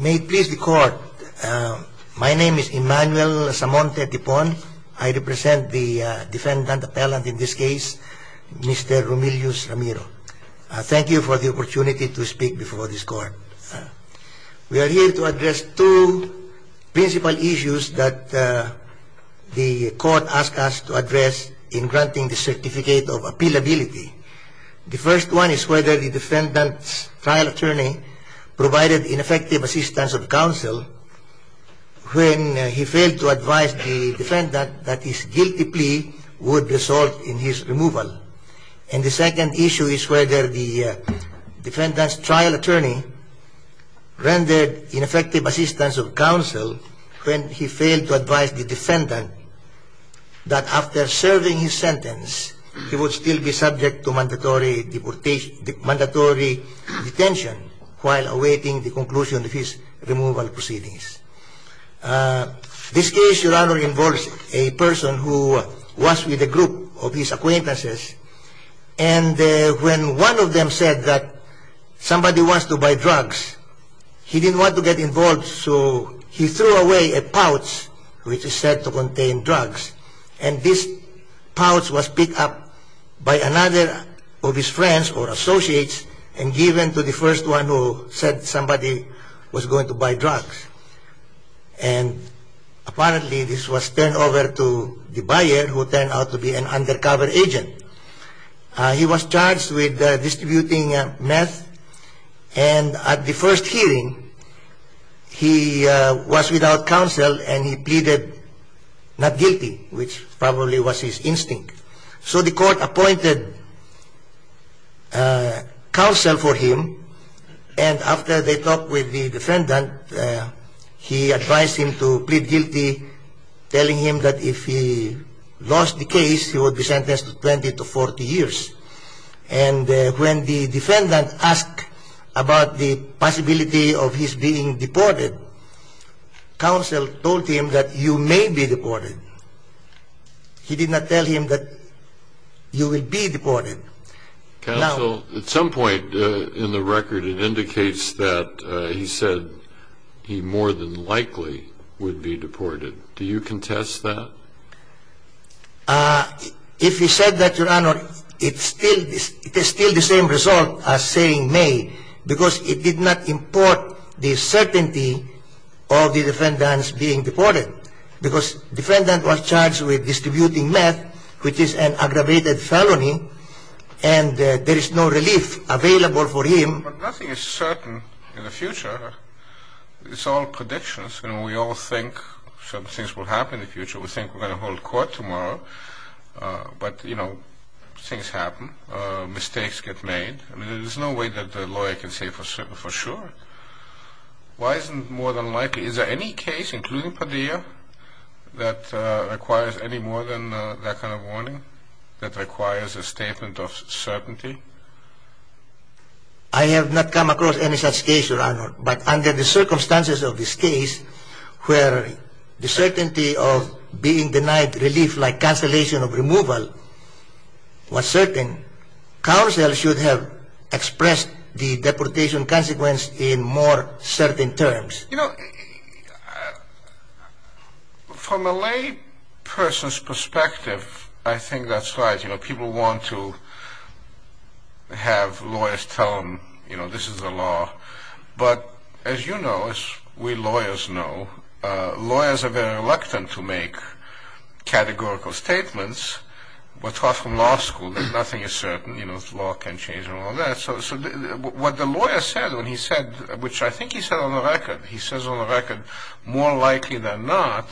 May it please the court, my name is Emmanuel Samonte Tipon. I represent the defendant appellant in this case, Mr. Romelius Ramiro. Thank you for the opportunity to speak before this court. We are here to address two principal issues that the court asked us to address in granting the certificate of appealability. The first one is whether the defendant's trial attorney provided ineffective assistance of counsel when he failed to advise the defendant that his guilty plea would result in his removal. And the second issue is whether the defendant's trial attorney rendered ineffective assistance of counsel when he failed to advise the defendant that after serving his sentence he would still be subject to mandatory detention while awaiting the conclusion of his removal proceedings. This case, Your Honor, involves a person who was with a group of his acquaintances and when one of them said that somebody wants to buy drugs, he didn't want to get involved so he threw away a pouch which is said to contain drugs and this pouch was picked up by another of his friends or associates and given to the first one who said somebody was going to buy drugs. And apparently this was turned over to the buyer who turned out to be an undercover agent. He was charged with distributing meth and at the first hearing he was without counsel and he pleaded not guilty, which probably was his instinct. So the court appointed counsel for him and after they talked with the defendant, he advised him to plead guilty, telling him that if he lost the case he would be sentenced to 20 to 40 years. And when the defendant asked about the possibility of his being deported, counsel told him that you may be deported. He did not tell him that you will be deported. Counsel, at some point in the record it indicates that he said he more than likely would be deported. Do you contest that? If he said that, Your Honor, it is still the same result as saying may because it did not import the certainty of the defendant's being deported because the defendant was charged with distributing meth, which is an aggravated felony, and there is no relief available for him. But nothing is certain in the future. It's all predictions. We all think certain things will happen in the future. We think we're going to hold court tomorrow, but things happen. Mistakes get made. There's no way that the lawyer can say for sure. Why isn't it more than likely? Is there any case, including Padilla, that requires any more than that kind of warning, that requires a statement of certainty? I have not come across any such case, Your Honor. But under the circumstances of this case, where the certainty of being denied relief like cancellation of removal was certain, counsel should have expressed the deportation consequence in more certain terms. From a lay person's perspective, I think that's right. People want to have lawyers tell them this is the law. But as you know, as we lawyers know, lawyers are very reluctant to make categorical statements. We're taught from law school that nothing is certain. Law can change and all that. So what the lawyer said, which I think he said on the record, he says on the record, more likely than not,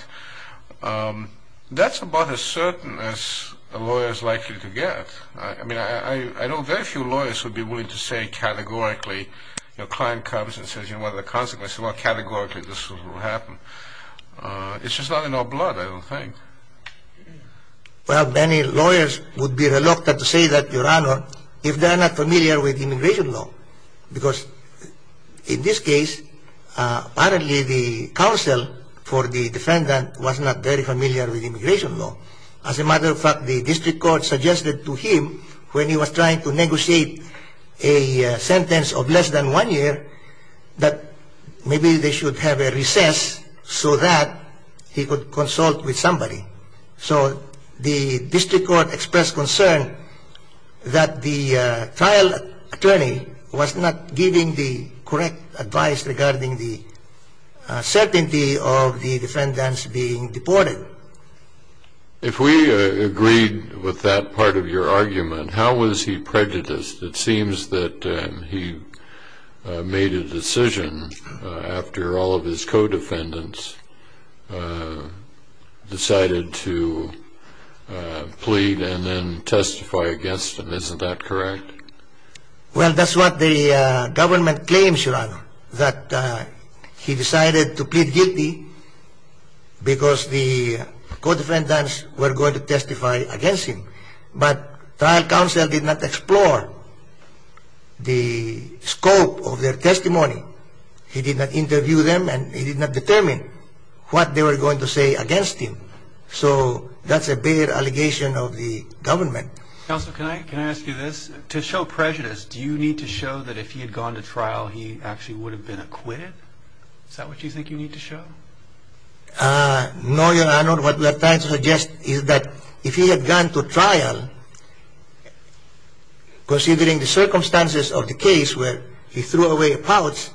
that's about as certain as a lawyer is likely to get. I mean, I know very few lawyers would be willing to say categorically, your client comes and says, you know, what are the consequences? Well, categorically this will happen. It's just not in our blood, I don't think. Well, many lawyers would be reluctant to say that, Your Honor, if they're not familiar with immigration law. Because in this case, apparently the counsel for the defendant was not very familiar with immigration law. As a matter of fact, the district court suggested to him when he was trying to negotiate a sentence of less than one year that maybe they should have a recess so that he could consult with somebody. So the district court expressed concern that the trial attorney was not giving the correct advice regarding the certainty of the defendants being deported. If we agreed with that part of your argument, how was he prejudiced? It seems that he made a decision after all of his co-defendants decided to plead and then testify against him. Isn't that correct? Well, that's what the government claims, Your Honor, that he decided to plead guilty because the co-defendants were going to testify against him. But trial counsel did not explore the scope of their testimony. He did not interview them and he did not determine what they were going to say against him. So that's a bigger allegation of the government. Counsel, can I ask you this? To show prejudice, do you need to show that if he had gone to trial, he actually would have been acquitted? Is that what you think you need to show? No, Your Honor. What we are trying to suggest is that if he had gone to trial, considering the circumstances of the case where he threw away a pouch,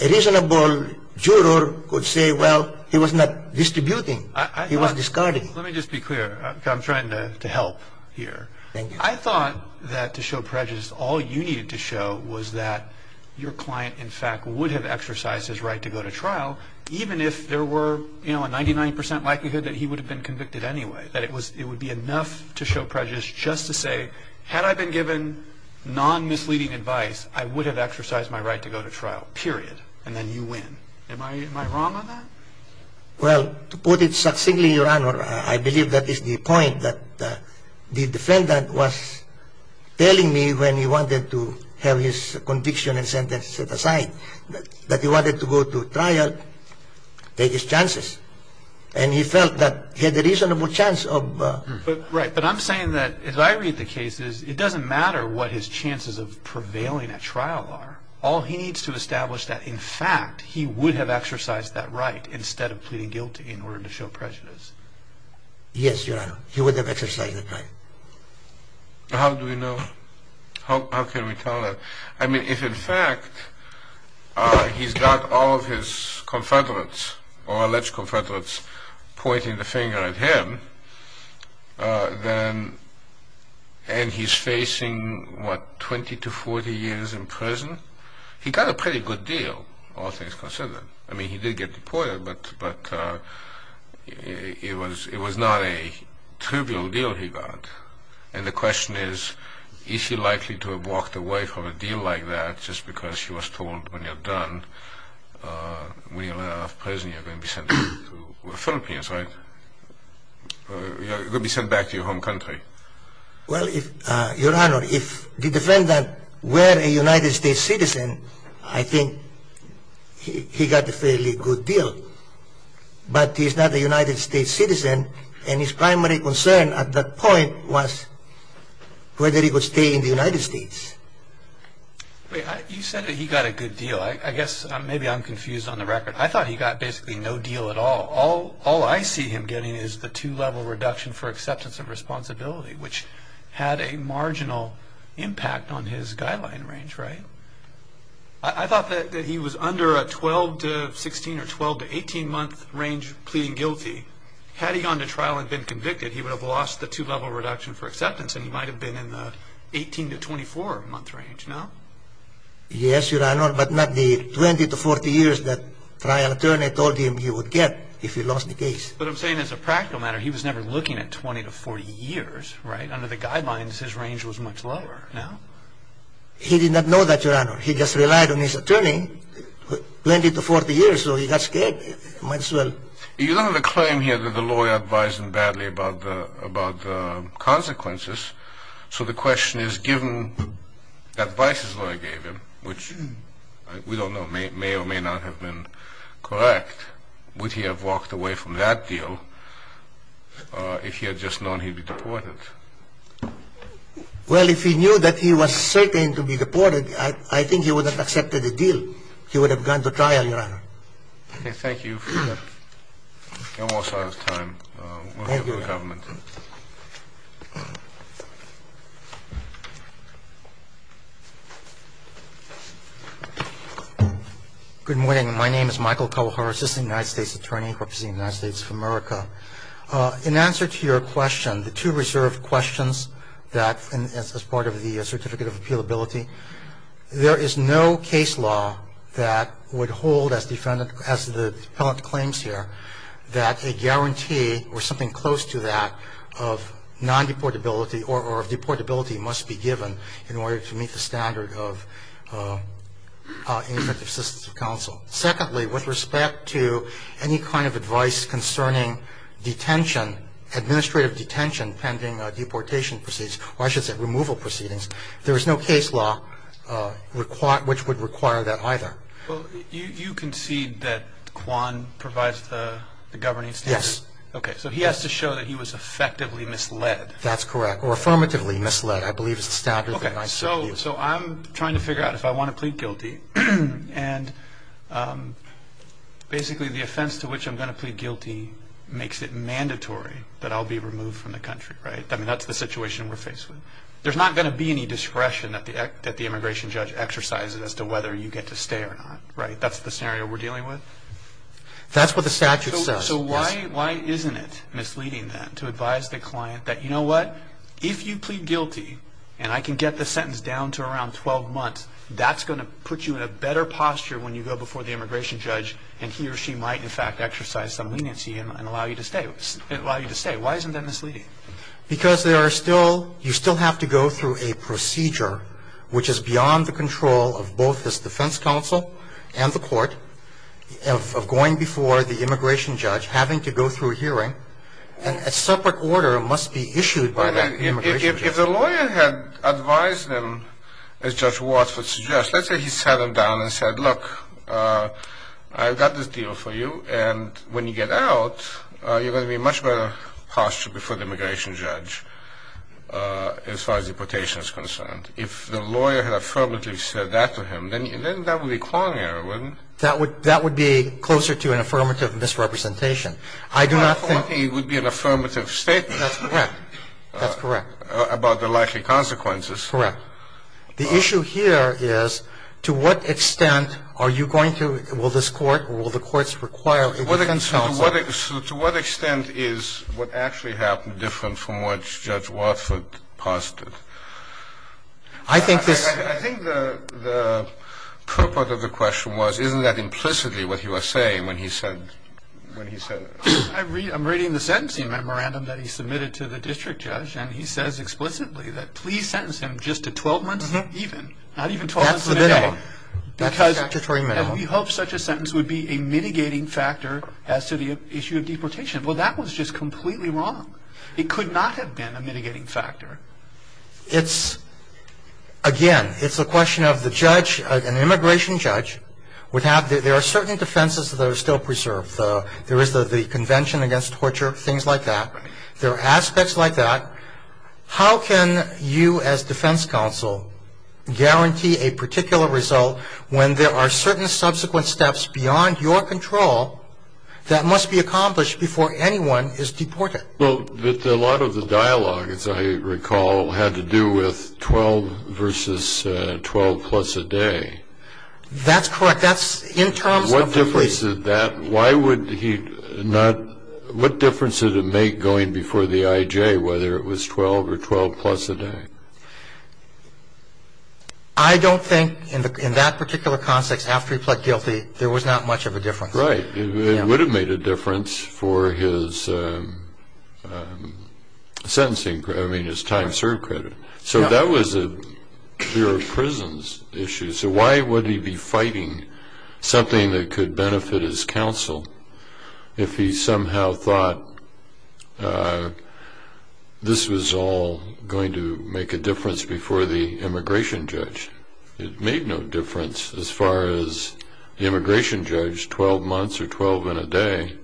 a reasonable juror could say, well, he was not distributing. He was discarding. Let me just be clear. I'm trying to help here. I thought that to show prejudice, all you needed to show was that your client, in fact, would have exercised his right to go to trial, even if there were a 99 percent likelihood that he would have been convicted anyway. That it would be enough to show prejudice just to say, had I been given non-misleading advice, I would have exercised my right to go to trial, period, and then you win. Am I wrong on that? Well, to put it succinctly, Your Honor, I believe that is the point that the defendant was telling me when he wanted to have his conviction and sentence set aside, that he wanted to go to trial, take his chances, and he felt that he had a reasonable chance of... Yes, Your Honor. He would have exercised his right. But it was not a trivial deal he got. And the question is, is she likely to have walked away from a deal like that just because she was told, when you're done, when you're out of prison, you're going to be sent back to the Philippines, right? You're going to be sent back to your home country. Well, Your Honor, if the defendant were a United States citizen, I think he got a fairly good deal. But he's not a United States citizen, and his primary concern at that point was whether he would stay in the United States. You said that he got a good deal. I guess maybe I'm confused on the record. I thought he got basically no deal at all. All I see him getting is the two-level reduction for acceptance of responsibility, which had a marginal impact on his guideline range, right? I thought that he was under a 12 to 16 or 12 to 18-month range pleading guilty. Had he gone to trial and been convicted, he would have lost the two-level reduction for acceptance, and he might have been in the 18 to 24-month range, no? Yes, Your Honor, but not the 20 to 40 years that trial attorney told him he would get if he lost the case. But I'm saying as a practical matter, he was never looking at 20 to 40 years, right? Under the guidelines, his range was much lower, no? He did not know that, Your Honor. He just relied on his attorney, 20 to 40 years, so he got scared. Might as well... You don't have a claim here that the lawyer advised him badly about the consequences, so the question is, given the advice his lawyer gave him, which we don't know, may or may not have been correct, would he have walked away from that deal if he had just known he'd be deported? Well, if he knew that he was certain to be deported, I think he would have accepted the deal. He would have gone to trial, Your Honor. Okay, thank you. We're almost out of time. We'll go to the government. Good morning. My name is Michael Kawahara, Assistant United States Attorney, representing the United States of America. In answer to your question, the two reserve questions that, as part of the Certificate of Appealability, there is no case law that would hold, as the defendant claims here, that a guarantee or something close to that would hold that the defendant would not be deported. So, the question is, given the advice he gave me, would he have walked away from that deal? Well, there's no case law that would hold that the defendant would not be deported. So, the question is, given the advice he gave me, would he have walked away from that deal? That's correct. Or affirmatively misled, I believe is the statute. Okay, so I'm trying to figure out if I want to plead guilty, and basically the offense to which I'm going to plead guilty makes it mandatory that I'll be removed from the country, right? I mean, that's the situation we're faced with. There's not going to be any discretion that the immigration judge exercises as to whether you get to stay or not, right? That's the scenario we're dealing with? That's what the statute says. So, why isn't it misleading then to advise the client that, you know what, if you plead guilty, and I can get the sentence down to around 12 months, that's going to put you in a better posture when you go before the immigration judge, and he or she might, in fact, exercise some leniency and allow you to stay. Why isn't that misleading? Because there are still – you still have to go through a procedure, which is beyond the control of both this defense counsel and the court of going before the immigration judge, having to go through a hearing, and a separate order must be issued by that immigration judge. If the lawyer had advised him, as Judge Watts would suggest, let's say he sat him down and said, look, I've got this deal for you, and when you get out, you're going to be in much better posture before the immigration judge as far as deportation is concerned. If the lawyer had affirmatively said that to him, then that would be a Kwong error, wouldn't it? That would be closer to an affirmative misrepresentation. I do not think he would be an affirmative statement. That's correct. That's correct. About the likely consequences. Correct. The issue here is to what extent are you going to – will this court or will the courts require a defense counsel? To what extent is what actually happened different from what Judge Watts posited? I think this – I think the purport of the question was, isn't that implicitly what he was saying when he said – when he said – I'm reading the sentencing memorandum that he submitted to the district judge, and he says explicitly that please sentence him just to 12 months even, not even 12 months in a day. That's the minimum. That's statutory minimum. And we hope such a sentence would be a mitigating factor as to the issue of deportation. Well, that was just completely wrong. It could not have been a mitigating factor. It's – again, it's a question of the judge, an immigration judge, would have – there are certain defenses that are still preserved. There is the Convention Against Torture, things like that. There are aspects like that. How can you as defense counsel guarantee a particular result when there are certain subsequent steps beyond your control that must be accomplished before anyone is deported? Well, a lot of the dialogue, as I recall, had to do with 12 versus 12 plus a day. That's correct. That's in terms of the – What difference did that – why would he not – what difference did it make going before the IJ whether it was 12 or 12 plus a day? I don't think in that particular context after he pled guilty there was not much of a difference. Right. It would have made a difference for his sentencing – I mean his time served credit. So that was a Bureau of Prisons issue. So why would he be fighting something that could benefit his counsel if he somehow thought this was all going to make a difference before the immigration judge? It made no difference as far as the immigration judge, 12 months or 12 and a day.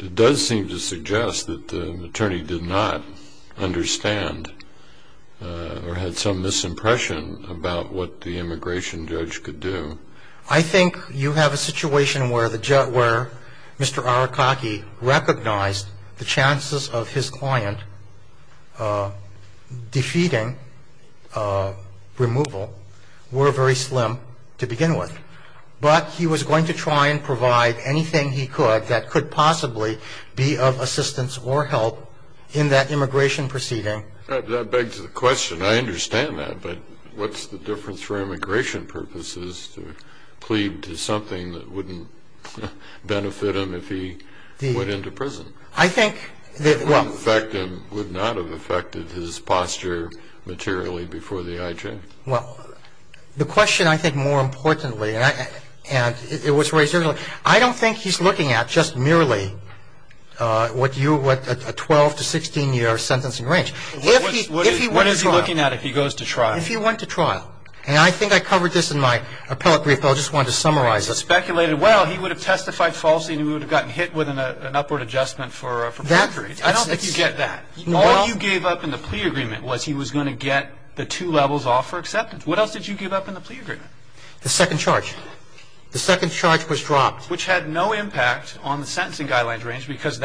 It does seem to suggest that the attorney did not understand or had some misimpression about what the immigration judge could do. I think you have a situation where Mr. Arakaki recognized the chances of his client defeating removal were very slim to begin with. But he was going to try and provide anything he could that could possibly be of assistance or help in that immigration proceeding. That begs the question. I understand that. But what's the difference for immigration purposes to plead to something that wouldn't benefit him if he went into prison? I think that – It wouldn't affect him, would not have affected his posture materially before the IJ. Well, the question I think more importantly, and it was raised earlier, I don't think he's looking at just merely a 12 to 16-year sentencing range. What is he looking at if he goes to trial? If he went to trial. And I think I covered this in my appellate brief, but I just wanted to summarize it. It's speculated, well, he would have testified falsely and he would have gotten hit with an upward adjustment for perjury. I don't think you get that. All you gave up in the plea agreement was he was going to get the two levels off for acceptance. What else did you give up in the plea agreement? The second charge. The second charge was dropped. Which had no impact on the sentencing guidelines range because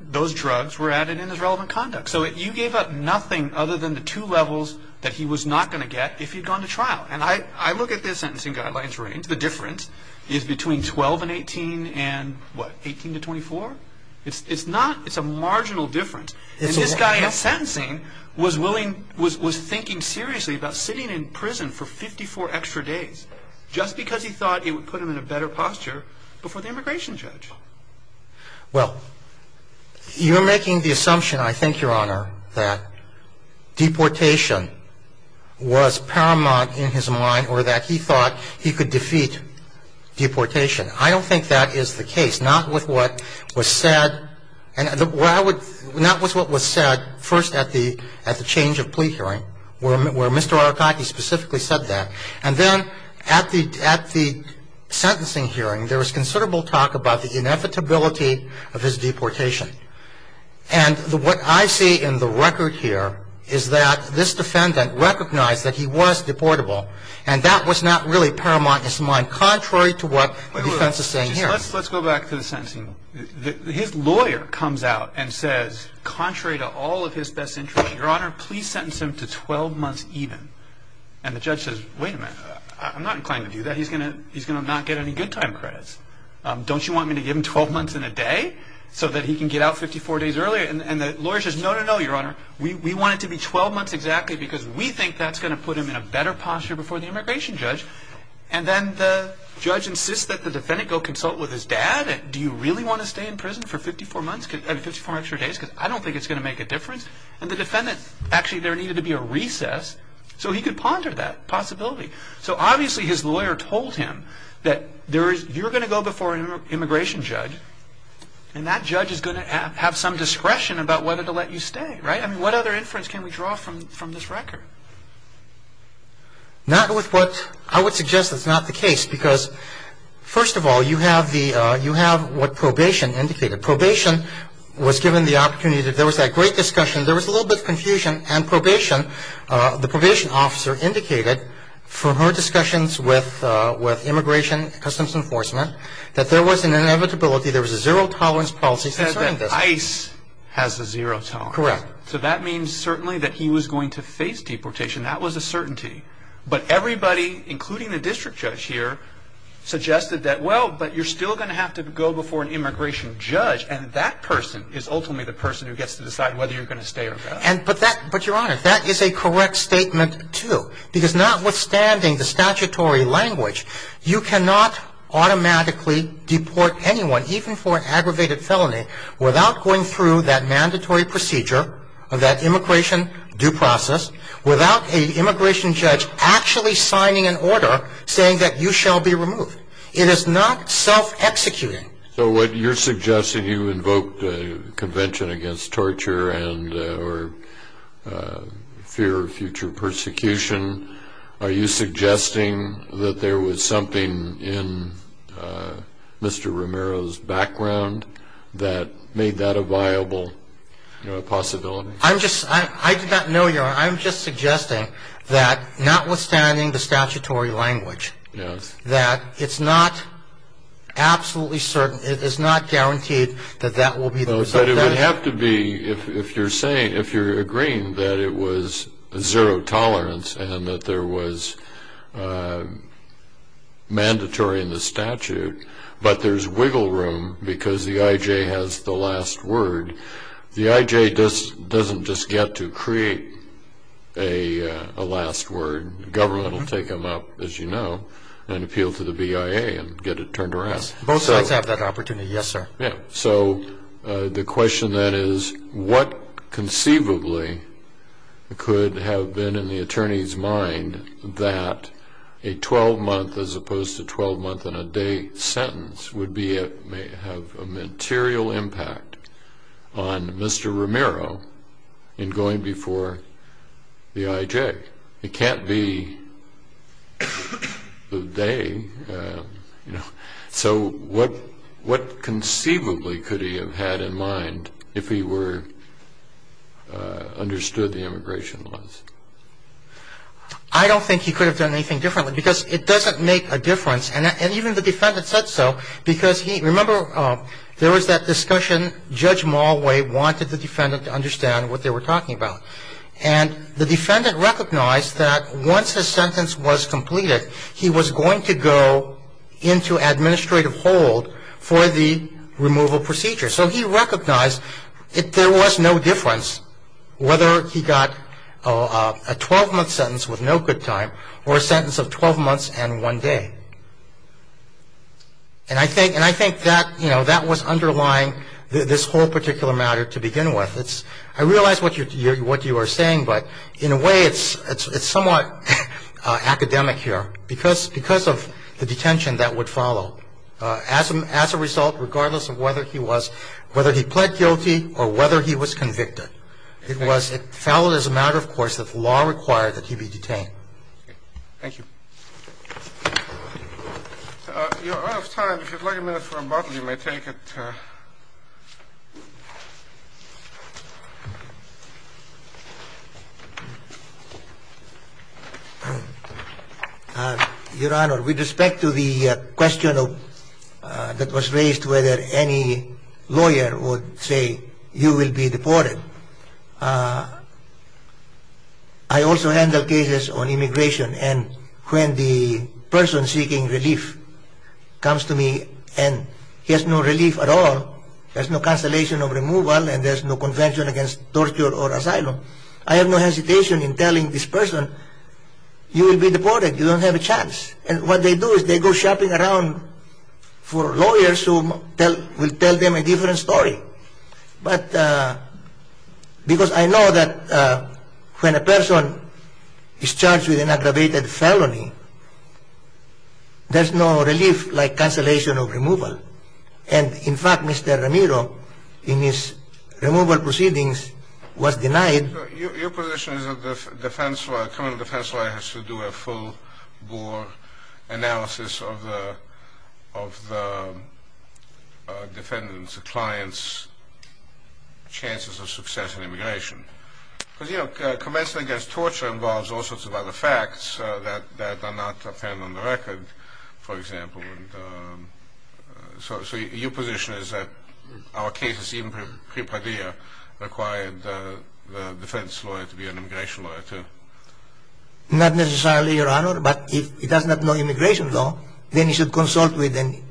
those drugs were added in his relevant conduct. So you gave up nothing other than the two levels that he was not going to get if he'd gone to trial. And I look at this sentencing guidelines range. The difference is between 12 and 18 and what, 18 to 24? It's a marginal difference. And this guy in sentencing was thinking seriously about sitting in prison for 54 extra days just because he thought it would put him in a better posture before the immigration judge. Well, you're making the assumption, I think, Your Honor, that deportation was paramount in his mind or that he thought he could defeat deportation. I don't think that is the case. I don't think that is the case. Not with what was said first at the change of plea hearing where Mr. Arutaki specifically said that. And then at the sentencing hearing, there was considerable talk about the inevitability of his deportation. And what I see in the record here is that this defendant recognized that he was deportable and that was not really paramount in his mind, contrary to what the defense is saying here. Let's go back to the sentencing. His lawyer comes out and says, contrary to all of his best interest, Your Honor, please sentence him to 12 months even. And the judge says, wait a minute. I'm not inclined to do that. He's going to not get any good time credits. Don't you want me to give him 12 months and a day so that he can get out 54 days earlier? And the lawyer says, no, no, no, Your Honor. We want it to be 12 months exactly because we think that's going to put him in a better posture before the immigration judge. And then the judge insists that the defendant go consult with his dad. Do you really want to stay in prison for 54 extra days because I don't think it's going to make a difference? And the defendant, actually there needed to be a recess so he could ponder that possibility. So obviously his lawyer told him that you're going to go before an immigration judge and that judge is going to have some discretion about whether to let you stay, right? I mean, what other inference can we draw from this record? Not with what I would suggest is not the case because, first of all, you have what probation indicated. Probation was given the opportunity. There was that great discussion. There was a little bit of confusion and probation. The probation officer indicated from her discussions with Immigration Customs Enforcement that there was an inevitability, there was a zero tolerance policy concerning this. That ICE has a zero tolerance. Correct. So that means certainly that he was going to face deportation. That was a certainty. But everybody, including the district judge here, suggested that, well, but you're still going to have to go before an immigration judge and that person is ultimately the person who gets to decide whether you're going to stay or go. But, Your Honor, that is a correct statement too because notwithstanding the statutory language, you cannot automatically deport anyone, even for an aggravated felony, without going through that mandatory procedure, that immigration due process, without an immigration judge actually signing an order saying that you shall be removed. It is not self-executing. So what you're suggesting, you invoked a convention against torture or fear of future persecution. Are you suggesting that there was something in Mr. Romero's background that made that a viable possibility? I did not know, Your Honor. I'm just suggesting that, notwithstanding the statutory language, that it's not absolutely certain, it is not guaranteed that that will be the result of that. But it would have to be, if you're agreeing that it was zero tolerance and that there was mandatory in the statute, but there's wiggle room because the I.J. has the last word. The I.J. doesn't just get to create a last word. Government will take them up, as you know, and appeal to the BIA and get it turned around. Both sides have that opportunity, yes, sir. Yes. So the question then is what conceivably could have been in the attorney's mind that a 12-month, as opposed to 12-month-and-a-day sentence, would have a material impact on Mr. Romero in going before the I.J.? It can't be the day. So what conceivably could he have had in mind if he understood the immigration laws? I don't think he could have done anything differently because it doesn't make a difference. And even the defendant said so because he – remember, there was that discussion. Judge Malway wanted the defendant to understand what they were talking about. And the defendant recognized that once his sentence was completed, he was going to go into administrative hold for the removal procedure. So he recognized there was no difference whether he got a 12-month sentence with no good time or a sentence of 12 months and one day. And I think that was underlying this whole particular matter to begin with. I realize what you are saying, but in a way, it's somewhat academic here because of the detention that would follow as a result, regardless of whether he was – whether he pled guilty or whether he was convicted. It was – it followed as a matter of course that the law required that he be detained. Thank you. You're out of time. If you'd like a minute for a bottle, you may take it. Your Honor, with respect to the question that was raised whether any lawyer would say you will be deported, I also handle cases on immigration, and when the person seeking relief comes to me and he has no relief at all, there's no cancellation of removal, and there's no convention against torture or asylum, I have no hesitation in telling this person, you will be deported. You don't have a chance. And what they do is they go shopping around for lawyers who will tell them a different story. But because I know that when a person is charged with an aggravated felony, there's no relief like cancellation of removal. And in fact, Mr. Ramiro, in his removal proceedings, was denied. Your position is that the defense lawyer, the criminal defense lawyer, has to do a full bore analysis of the defendant's, the client's chances of success in immigration. Because, you know, convention against torture involves all sorts of other facts that are not apparent on the record, for example. So your position is that our cases, even pre-Padilla, required the defense lawyer to be an immigration lawyer too. Not necessarily, Your Honor, but if he does not know immigration law, then he should consult with an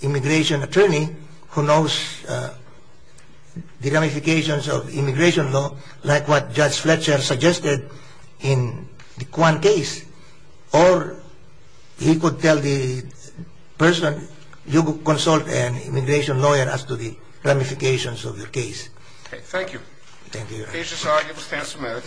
immigration attorney who knows the ramifications of immigration law, like what Judge Fletcher suggested in the Kwan case. Or he could tell the person, you consult an immigration lawyer as to the ramifications of your case. Okay, thank you. Thank you, Your Honor. Case is argued with tantamount.